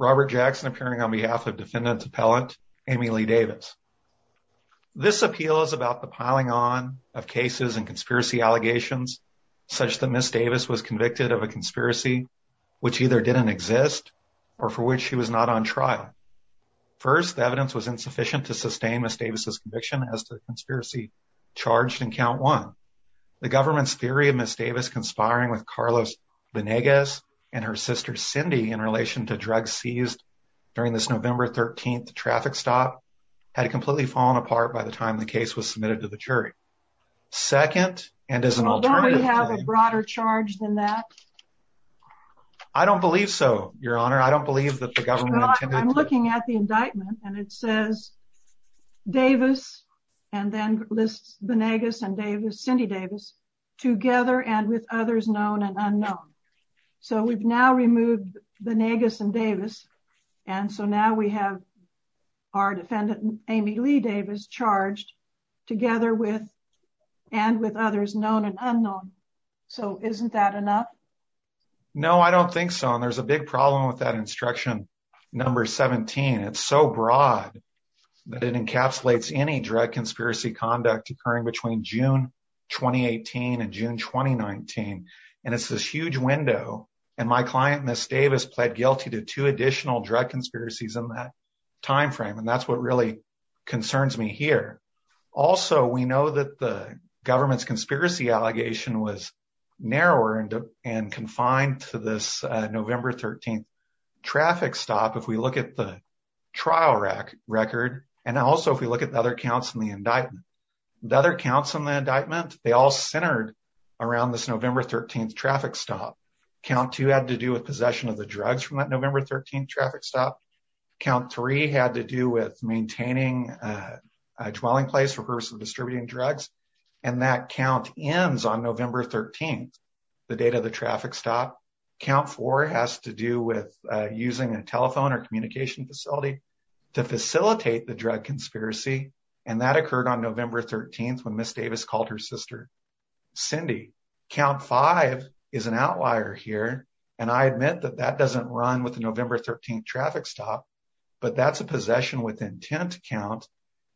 Robert Jackson appearing on behalf of defendant's appellant Amy Lee Davis. This appeal is about the piling on of cases and conspiracy allegations such that Ms. Davis was convicted of a conspiracy which either didn't exist or for which she was not on trial. First, the evidence was insufficient to sustain Ms. Davis' conviction as to the conspiracy charged in count one. The government's theory of Ms. Davis conspiring with Carlos Venegas and her sister Cindy in relation to drugs seized during this November 13th traffic stop had completely fallen apart by the time the case was submitted to the jury. Second, and as an alternative... Well, don't we have a broader charge than that? I don't believe so, Your Honor. I don't believe that the government intended to... Well, I'm looking at the indictment and it says Davis and then lists Venegas and Davis, Cindy Davis, together and with others known and unknown. So we've now removed Venegas and Davis and so now we have our defendant Amy Lee Davis charged together with and with others known and unknown. So isn't that enough? No, I don't think so and there's a big problem with that instruction number 17. It's so broad that it encapsulates any drug conspiracy conduct occurring between June 2018 and June 2019 and it's this huge window and my client, Ms. Davis, pled guilty to two additional drug conspiracies in that timeframe and that's what really concerns me here. Also, we know that the government's conspiracy allegation was narrower and confined to this November 13th traffic stop if we look at the trial record and also if we look at the other counts in the indictment. The other counts in the indictment, they all centered around this November 13th traffic stop. Count two had to do with possession of the drugs from that November 13th traffic stop. Count three had to do with maintaining a dwelling place for purpose of distributing drugs and that count ends on November 13th, the date of the traffic stop. Count four has to do with using a telephone or communication facility to facilitate the drug conspiracy and that occurred on November 13th when Ms. Davis called her sister, Cindy. Count five is an outlier here and I admit that that doesn't run with the November 13th traffic stop but that's a possession with intent count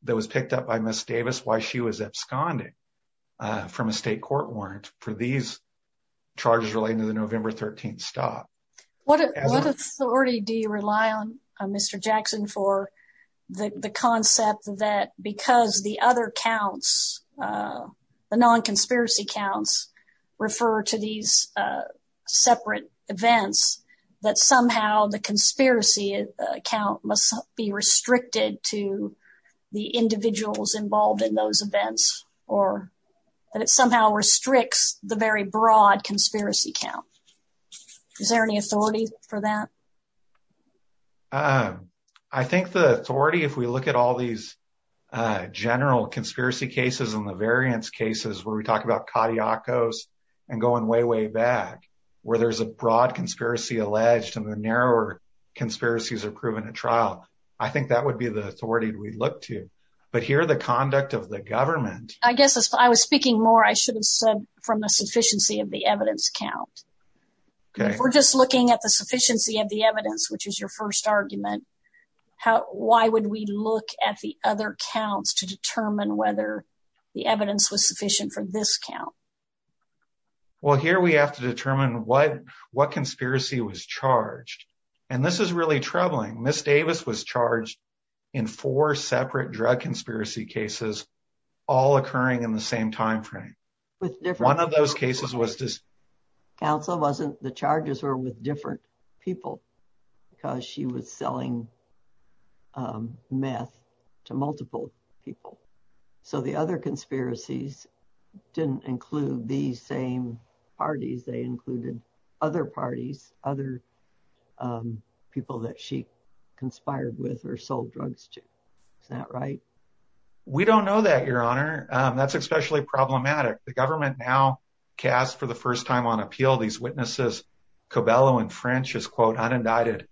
that was picked up by Ms. Davis while she was absconding from a state court warrant for these charges relating to the November 13th stop. What authority do you rely on, Mr. Jackson, for the concept that because the other counts, the non-conspiracy counts refer to these separate events that somehow the conspiracy count must be restricted to the individuals involved in those events or that it somehow restricts the very broad conspiracy count? Is there any authority for that? I think the authority, if we look at all these general conspiracy cases and the variance cases where we talk about Kadiakos and going way, way back, where there's a broad conspiracy alleged and the narrower conspiracies are proven at trial, I think that would be the authority we'd look to. But here the conduct of the government- I guess if I was speaking more, I should have said from the sufficiency of the evidence count. If we're just looking at the sufficiency of the evidence, which is your first argument, why would we look at the other counts to determine whether the evidence was sufficient for this count? Well, here we have to determine what conspiracy was charged. And this is really troubling. Ms. Davis was charged in four separate drug conspiracy cases, all occurring in the same timeframe. One of those cases was- Counsel wasn't- the charges were with different people because she was selling meth to multiple people. So the other conspiracies didn't include these same parties. They included other parties, other people that she conspired with or sold drugs to. Is that right? We don't know that, Your Honor. That's especially problematic. The government now cast for the first time on appeal these witnesses, Cobello and French as quote, unindicted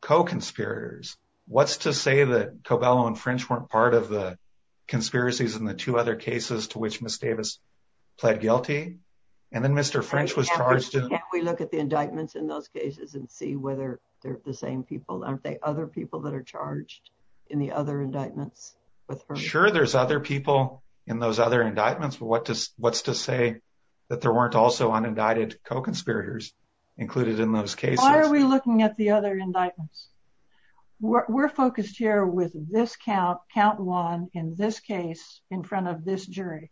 co-conspirators. What's to say that Cobello and French weren't part of the conspiracies in the two other cases to which Ms. Davis pled guilty? And then Mr. French was charged- Can't we look at the indictments in those cases and see whether they're the same people? Aren't they other people that are charged in the other indictments? Sure, there's other people in those other indictments, but what's to say that there weren't also unindicted co-conspirators included in those cases? Why are we looking at the other indictments? We're focused here with this count, count one in this case in front of this jury.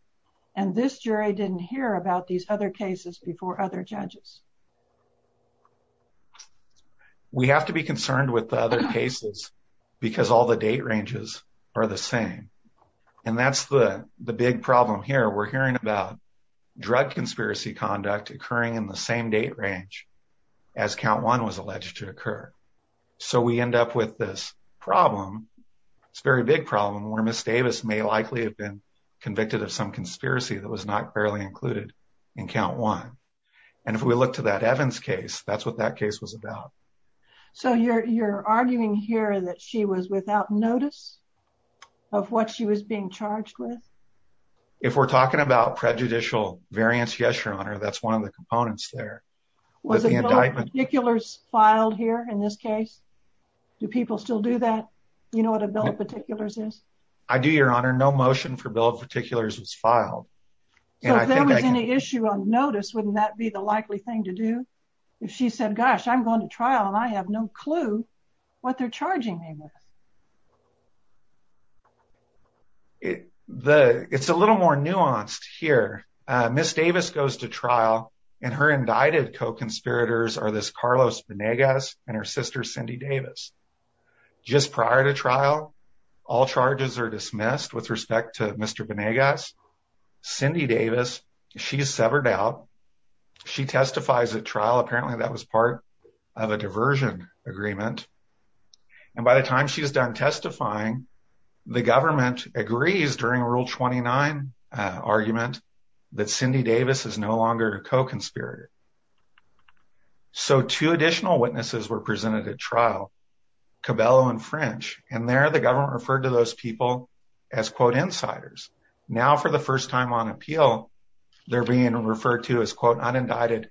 And this jury didn't hear about these other cases before other judges. We have to be concerned with the other cases because all the date ranges are the same. And that's the big problem here. We're hearing about drug conspiracy conduct occurring in the same date range as count one was alleged to occur. So we end up with this problem. It's a very big problem where Ms. Davis may likely have been convicted of some conspiracy that was not clearly included in count one. And if we look to that Evans case, that's what that case was about. So you're arguing here that she was without notice of what she was being charged with? If we're talking about prejudicial variance, yes, Your Honor, that's one of the components there. Was a Bill of Particulars filed here in this case? Do people still do that? You know what a Bill of Particulars is? I do, Your Honor. No motion for Bill of Particulars was filed. So if there was any issue on notice, wouldn't that be the likely thing to do? If she said, gosh, I'm going to trial and I have no clue what they're charging me with. It's a little more nuanced here. Ms. Davis goes to trial and her indicted co-conspirators are this Carlos Venegas and her sister Cindy Davis. Just prior to trial, all charges are dismissed with respect to Mr. Venegas. Cindy Davis, she's severed out. She testifies at trial. Apparently, that was part of a diversion agreement. And by the time she's done testifying, the government agrees during Rule 29 argument that Cindy Davis is no longer a co-conspirator. So two additional witnesses were presented at trial, Cabello and French, and there the government referred to those people as quote insiders. Now for the first time on appeal, they're being referred to as quote unindicted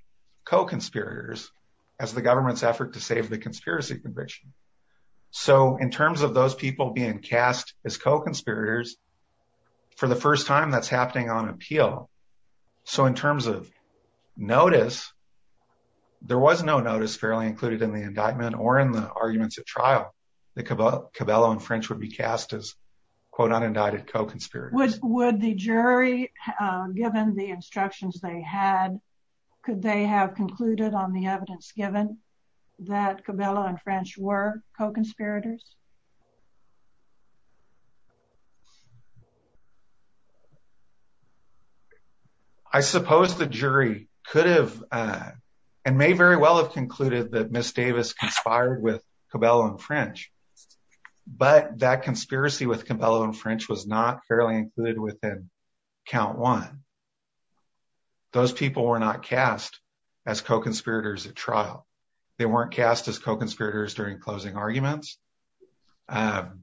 co-conspirators as the government's effort to save the conspiracy conviction. So in terms of those people being cast as co-conspirators, for the first time that's happening on appeal. So in terms of notice, there was no notice fairly included in the indictment or in the arguments at trial that Cabello and French would be cast as quote unindicted co-conspirators. Would the jury, given the instructions they had, could they have concluded on the evidence given that Cabello and French were co-conspirators? I suppose the jury could have and may very well have concluded that Ms. Davis conspired with Cabello and French, but that conspiracy with Cabello and French was not fairly included within count one. Those people were not cast as co-conspirators at trial. They weren't cast as co-conspirators during closing arguments. And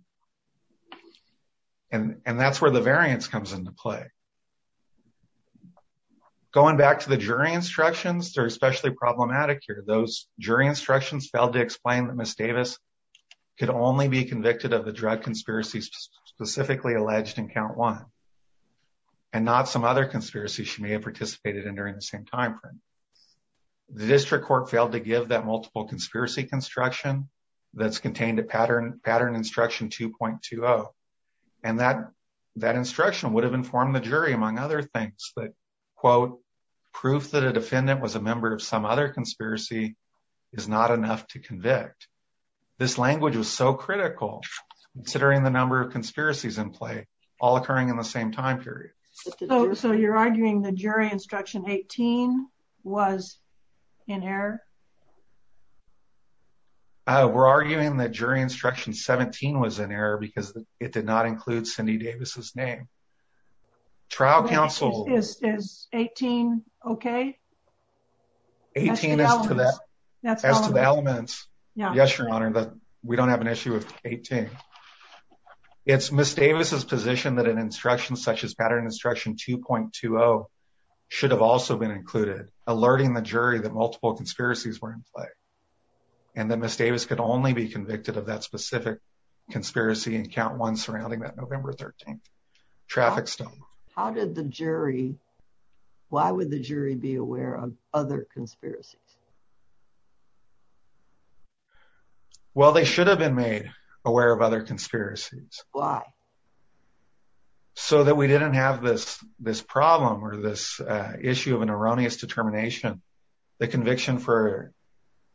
that's where the variance comes into play. Going back to the jury instructions, they're especially problematic here. Those jury instructions failed to explain that Ms. Davis could only be convicted of the drug conspiracies specifically alleged in count one and not some other conspiracies she may have participated in during the same time frame. The district court failed to give that multiple conspiracy construction that's contained in pattern instruction 2.20. And that instruction would have informed the jury, among other things, that quote proof that a defendant was a member of some other conspiracy is not enough to convict. This language was so critical considering the number of conspiracies in play all occurring in the same time period. So you're arguing the jury instruction 18 was in error? We're arguing that jury instruction 17 was in error because it did not include Cindy Davis's name. Trial counsel... Is 18 okay? 18 as to the elements. Yes, Your Honor, but we don't have an issue with 18. It's Ms. Davis's position that an instruction such as pattern instruction 2.20 should have also been included, alerting the jury that multiple conspiracies were in play and that Ms. Davis could only be convicted of that specific conspiracy in count one surrounding that November 13th traffic stop. How did the jury... Why would the jury be aware of other conspiracies? Well, they should have been made aware of other conspiracies. Why? So that we didn't have this problem or this issue of an erroneous determination, the conviction for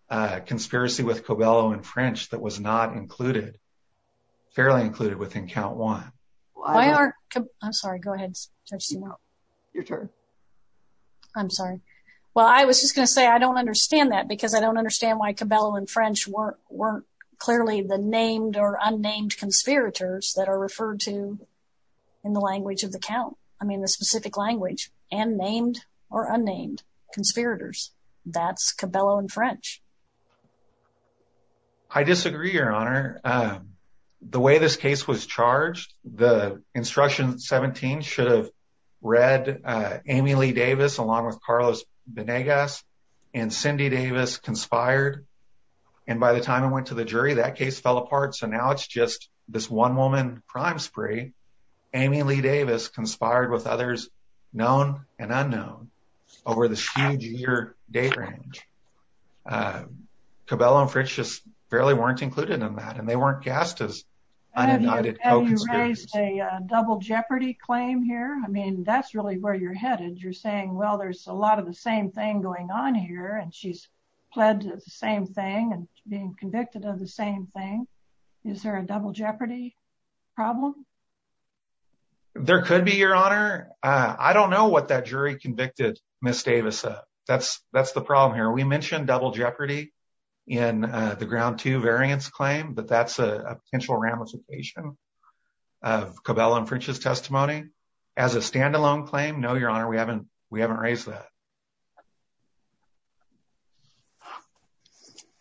a conspiracy with Cobello and French that was not included, fairly included within count one. Why aren't... I'm sorry. Go ahead. Judge Sumo. Your turn. I'm sorry. Well, I was just going to say, I don't understand that because I don't understand why Cobello and French weren't clearly the named or unnamed conspirators that are referred to in the language of the count. I mean, the specific language and named or unnamed conspirators. That's Cobello and French. I disagree, Your Honor. The way this case was charged, the instruction 17 should have read Amy Lee Davis along with Carlos Benegas and Cindy Davis conspired. And by the time I went to the jury, that case fell apart. So now it's just this one woman crime spree. Amy Lee Davis conspired with others known and unknown over the huge year date range. Cobello and French just barely weren't included in that. And they weren't cast as unidentified co-conspirators. Have you raised a double jeopardy claim here? I mean, that's really where you're headed. You're saying, well, there's a lot of the same thing going on here and she's pled to the same thing and being convicted of the same thing. Is there a double jeopardy problem? There could be, Your Honor. I don't know what that jury convicted Ms. Davis of. That's the problem here. We mentioned double jeopardy in the ground two variance claim, but that's a potential ramification of Cobello and French's testimony. As a standalone claim, no, Your Honor, we haven't raised that.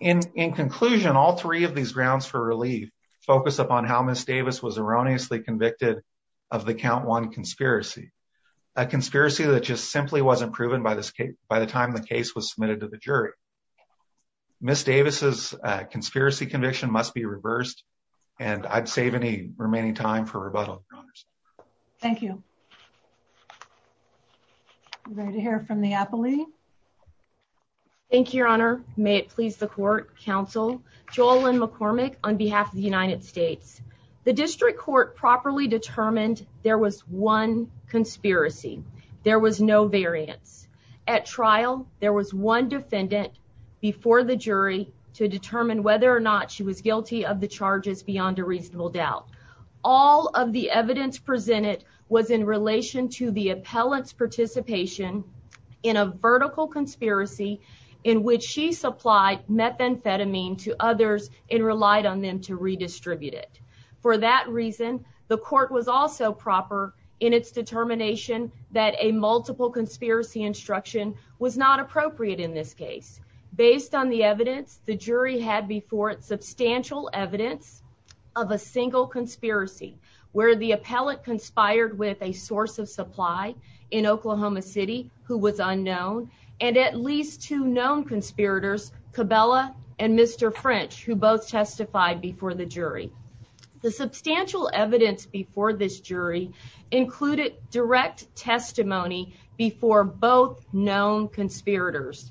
In conclusion, all three of these grounds for relief focus upon how Ms. Davis was erroneously convicted of the count one conspiracy, a conspiracy that just simply wasn't proven by the time the case was submitted to the jury. Ms. Davis's conspiracy conviction must be reversed and I'd save any remaining time for rebuttal. Thank you. Ready to hear from the appellee. Thank you, Your Honor. May it please the court, counsel, JoLynn McCormick on behalf of the United States. The district court properly determined there was one conspiracy. There was no variance. At trial, there was one defendant before the jury to determine whether or not she was guilty of the charges beyond a reasonable doubt. All of the evidence presented was in relation to the appellant's participation in a vertical conspiracy in which she supplied methamphetamine to others and relied on them to redistribute it. For that reason, the court was also proper in its determination that a multiple conspiracy instruction was not appropriate in this case. Based on the evidence, the jury had before it substantial evidence of a single conspiracy where the appellant conspired with a source of supply in Oklahoma City who was unknown and at least two known conspirators, Cabela and Mr. French, who both testified before the jury. The substantial evidence before this jury included direct testimony before both known conspirators.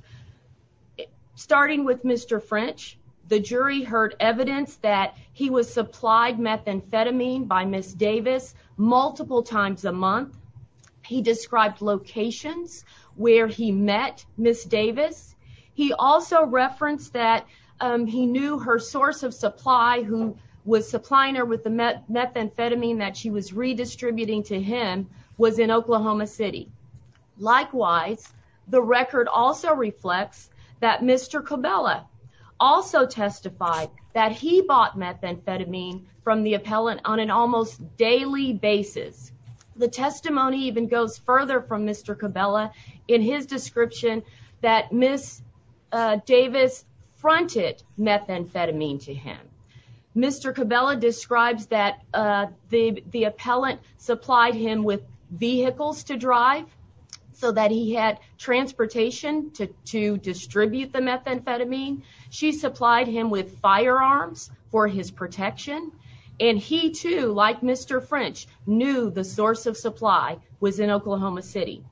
Starting with Mr. French, the jury heard evidence that he was supplied methamphetamine by Ms. Davis multiple times a month. He described locations where he met Ms. Davis. He also referenced that he knew her source of supply who was supplying her with the methamphetamine that she was redistributing to him was in Oklahoma City. Likewise, the record also reflects that Mr. Cabela also testified that he bought methamphetamine from the appellant on an almost daily basis. The testimony even goes further from Mr. Cabela in his description that Ms. Davis fronted methamphetamine to him. Mr. Cabela describes that the appellant supplied him with vehicles to drive so that he had transportation to distribute the methamphetamine. She supplied him with firearms for his protection and he too, like Mr. French, knew the source of supply was in Oklahoma City.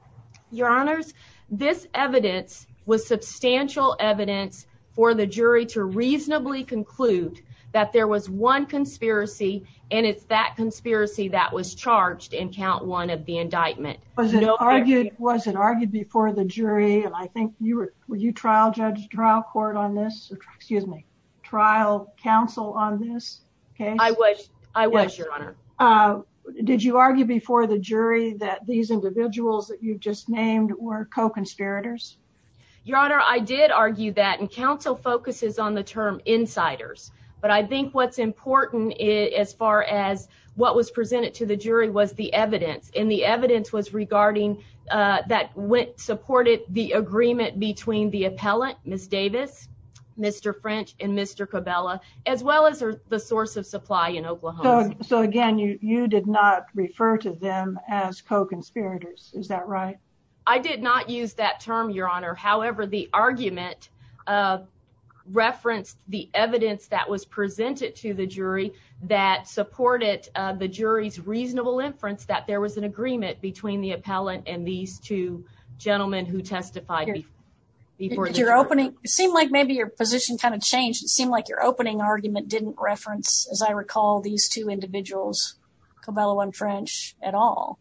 Your honors, this evidence was substantial evidence for the jury to reasonably conclude that there was one conspiracy and it's that conspiracy that was charged in count one of the indictment. Was it argued before the jury? I think you were, were you trial judge, trial court on this, excuse me, trial counsel on this case? I was, I was, your honor. Your honor, did you argue before the jury that these individuals that you've just named were co-conspirators? Your honor, I did argue that and counsel focuses on the term insiders. But I think what's important as far as what was presented to the jury was the evidence and the evidence was regarding that supported the agreement between the appellant, Ms. Davis, Mr. French and Mr. Cabela, as well as the source of supply in Oklahoma. So again, you, you did not refer to them as co-conspirators, is that right? I did not use that term, your honor. However, the argument referenced the evidence that was presented to the jury that supported the jury's reasonable inference that there was an agreement between the appellant and these two gentlemen who testified before the jury. Your opening, it seemed like maybe your position kind of changed. It seemed like your opening argument didn't reference, as I recall, these two individuals, Cabela and French at all.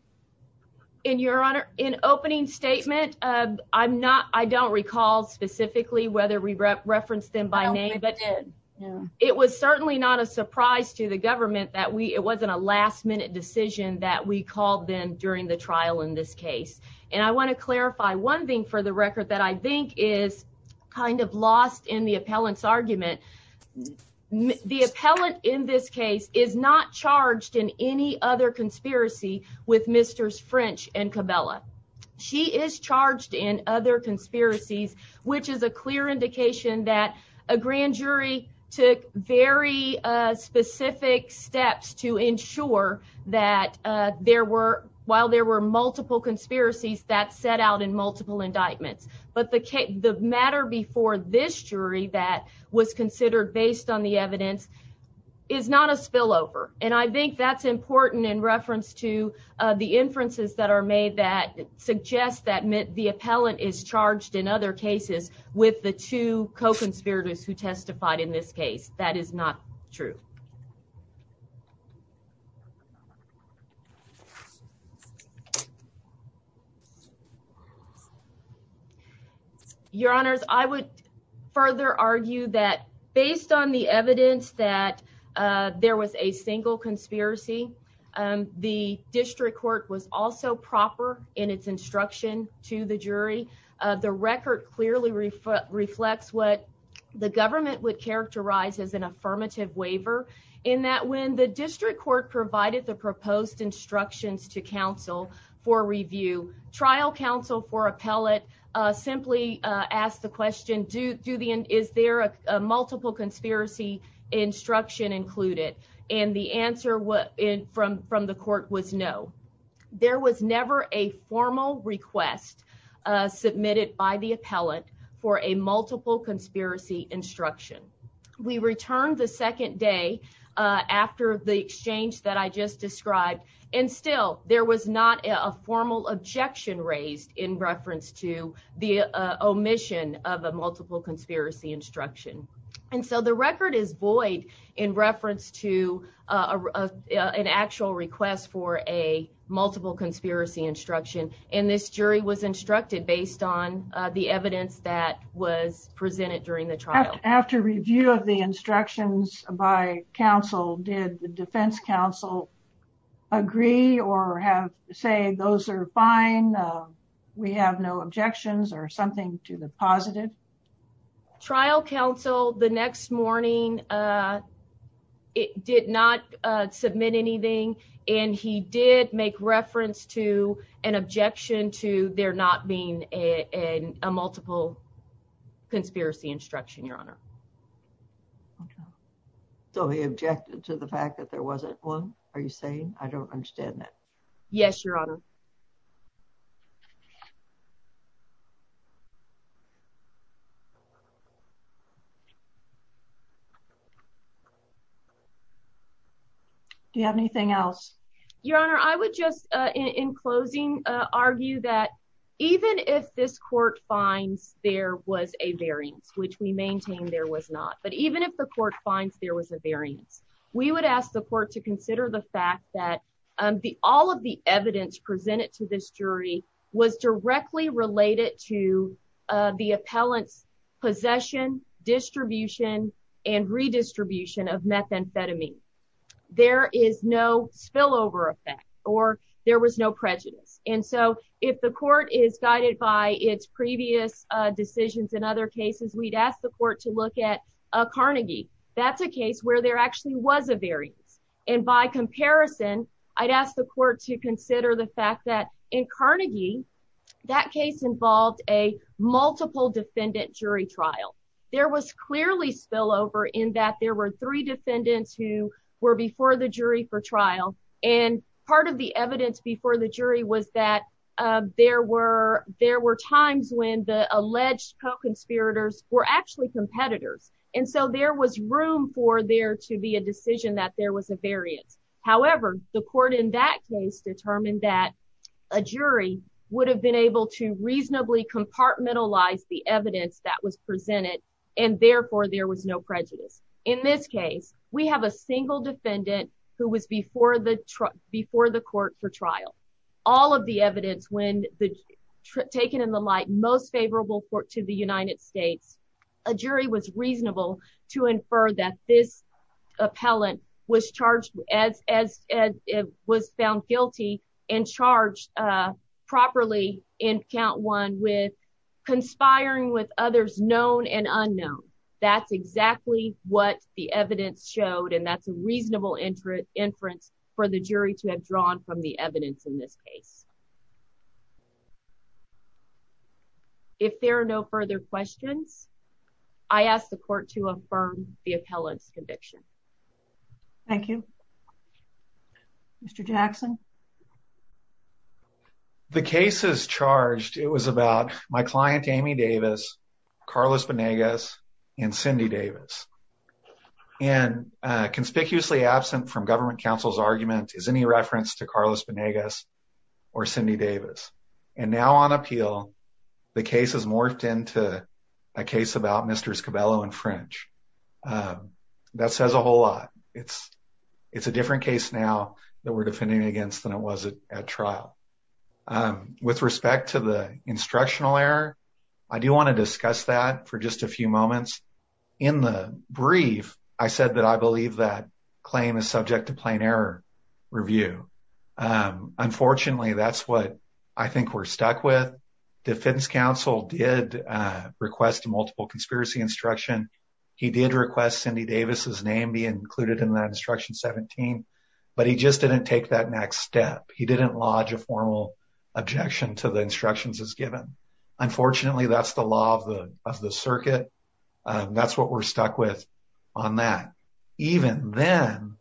In your honor, in opening statement, I'm not, I don't recall specifically whether we referenced them by name, but it was certainly not a surprise to the government that we, it wasn't a last minute decision that we called them during the trial in this case. And I want to clarify one thing for the record that I think is kind of lost in the appellant's statement. The appellant in this case is not charged in any other conspiracy with Mr. French and Cabela. She is charged in other conspiracies, which is a clear indication that a grand jury took very specific steps to ensure that there were, while there were multiple conspiracies that set out in multiple indictments. But the matter before this jury that was considered based on the evidence is not a spillover. And I think that's important in reference to the inferences that are made that suggest that the appellant is charged in other cases with the two co-conspirators who testified in this case. That is not true. Your honors, I would further argue that based on the evidence that, uh, there was a single conspiracy, um, the district court was also proper in its instruction to the jury. Uh, the record clearly reflect reflects what the government would characterize as an affirmative waiver in that when the district court provided the proposed instructions to counsel for review trial counsel for appellate, uh, simply, uh, ask the question, do, do the, is there a multiple conspiracy instruction included? And the answer was from, from the court was no, there was never a formal request, uh, submitted by the appellant for a multiple conspiracy instruction. We returned the second day, uh, after the exchange that I just described, and still there was not a formal objection raised in reference to the, uh, omission of a multiple conspiracy instruction. And so the record is void in reference to, uh, uh, uh, an actual request for a multiple conspiracy instruction. And this jury was instructed based on, uh, the evidence that was presented during the trial. After review of the instructions by counsel, did the defense counsel agree or have, say those are fine, uh, we have no objections or something to the positive? Trial counsel the next morning, uh, it did not, uh, submit anything. And he did make reference to an objection to there not being a, a, a multiple conspiracy instruction. Your honor. Okay. So he objected to the fact that there wasn't one. Are you saying I don't understand that? Yes, your honor. Do you have anything else? Your honor, I would just, uh, in closing, uh, argue that even if this court finds there was a variance, which we maintain there was not, but even if the court finds there was a variance, we would ask the court to consider the fact that, um, the, all of the evidence presented to this jury was directly related to, uh, the appellant's possession distribution and redistribution of methamphetamine. There is no spillover effect or there was no prejudice. And so if the court is guided by its previous decisions in other cases, we'd ask the court to look at a Carnegie. That's a case where there actually was a variance. And by comparison, I'd ask the court to consider the fact that in Carnegie, that case involved a multiple defendant jury trial. There was clearly spillover in that there were three defendants who were before the jury for trial. And part of the evidence before the jury was that, uh, there were, there were times when the alleged co-conspirators were actually competitors. And so there was room for there to be a decision that there was a variance. However, the court in that case determined that a jury would have been able to reasonably compartmentalize the evidence that was presented. And therefore there was no prejudice. In this case, we have a single defendant who was before the truck before the court for trial. All of the evidence when the taken in the light, most favorable court to the United States, a jury was reasonable to infer that this appellant was charged as, as, as it was found guilty and charged, uh, properly in count one with conspiring with others known and unknown. That's exactly what the evidence showed. And that's a reasonable interest inference for the jury to have drawn from the evidence in this case. If there are no further questions, I asked the court to affirm the appellant's conviction. Thank you, Mr. Jackson. The case is charged. It was about my client, Amy Davis, Carlos Benegas, and Cindy Davis. And, uh, conspicuously absent from government counsel's argument is any reference to Carlos Benegas or Cindy Davis. And now on appeal, the case has morphed into a case about Mr. Scabello and French. That says a whole lot. It's, it's a different case now that we're defending against than it was at trial. Um, with respect to the instructional error, I do want to discuss that for just a few moments in the brief. I said that I believe that claim is subject to plain error review. Um, unfortunately that's what I think we're stuck with. Defense counsel did, uh, request multiple conspiracy instruction. He did request Cindy Davis's name be included in that instruction 17, but he just didn't take that next step. He didn't lodge a formal objection to the instructions as given. Unfortunately, that's the law of the, of the circuit. That's what we're stuck with on that. Even then,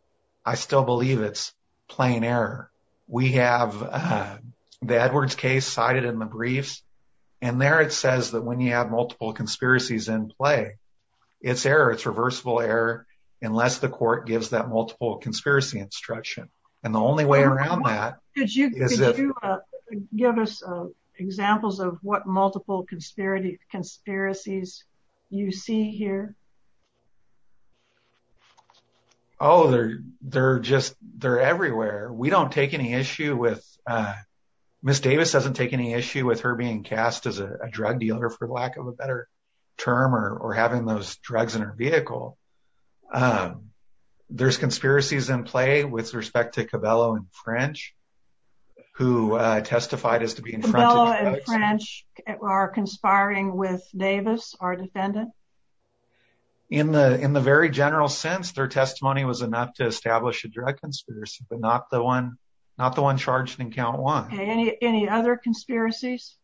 I still believe it's plain error. We have, uh, the Edwards case cited in the briefs. And there, it says that when you have multiple conspiracies in play, it's error, it's reversible error, unless the court gives that multiple conspiracy instruction. And the only way around that is if you, uh, give us, uh, examples of what multiple conspiracy conspiracies you see here. Oh, they're, they're just, they're everywhere. We don't take any issue with, uh, Ms. Davis doesn't take any issue with her being cast as a drug dealer for lack of a better term or, or having those drugs in her vehicle. Um, there's conspiracies in play with respect to Cabello and French who, uh, testified as to be in front of French are conspiring with Davis, our defendant in the, in the very general sense, their testimony was enough to establish a drug conspiracy, but not the one, not the one charged in count one, any, any other conspiracies,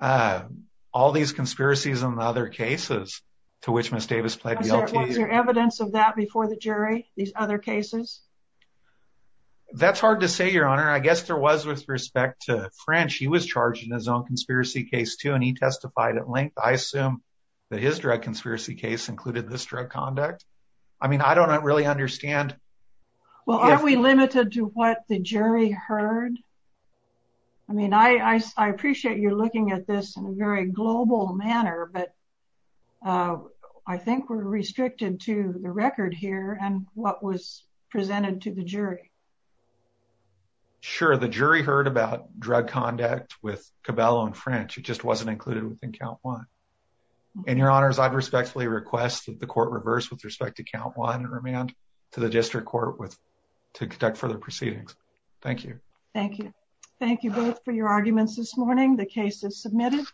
uh, all these conspiracies and other cases to which Ms. Davis played. Was there evidence of that before the jury, these other cases? That's hard to say your honor. I guess there was with respect to French, he was charged in his own conspiracy case too. And he testified at length. I assume that his drug conspiracy case included this drug conduct. I mean, I don't really understand. Well, are we limited to what the jury heard? I mean, I, I, I appreciate you're looking at this in a very global manner, but. Uh, I think we're restricted to the record here and what was presented to the jury. Sure. The jury heard about drug conduct with Cabello and French. It just wasn't included within count one and your honors. I've respectfully requested the court reverse with respect to count one and remand to the district court with to conduct further proceedings. Thank you. Thank you. Thank you both for your arguments this morning. The case is submitted.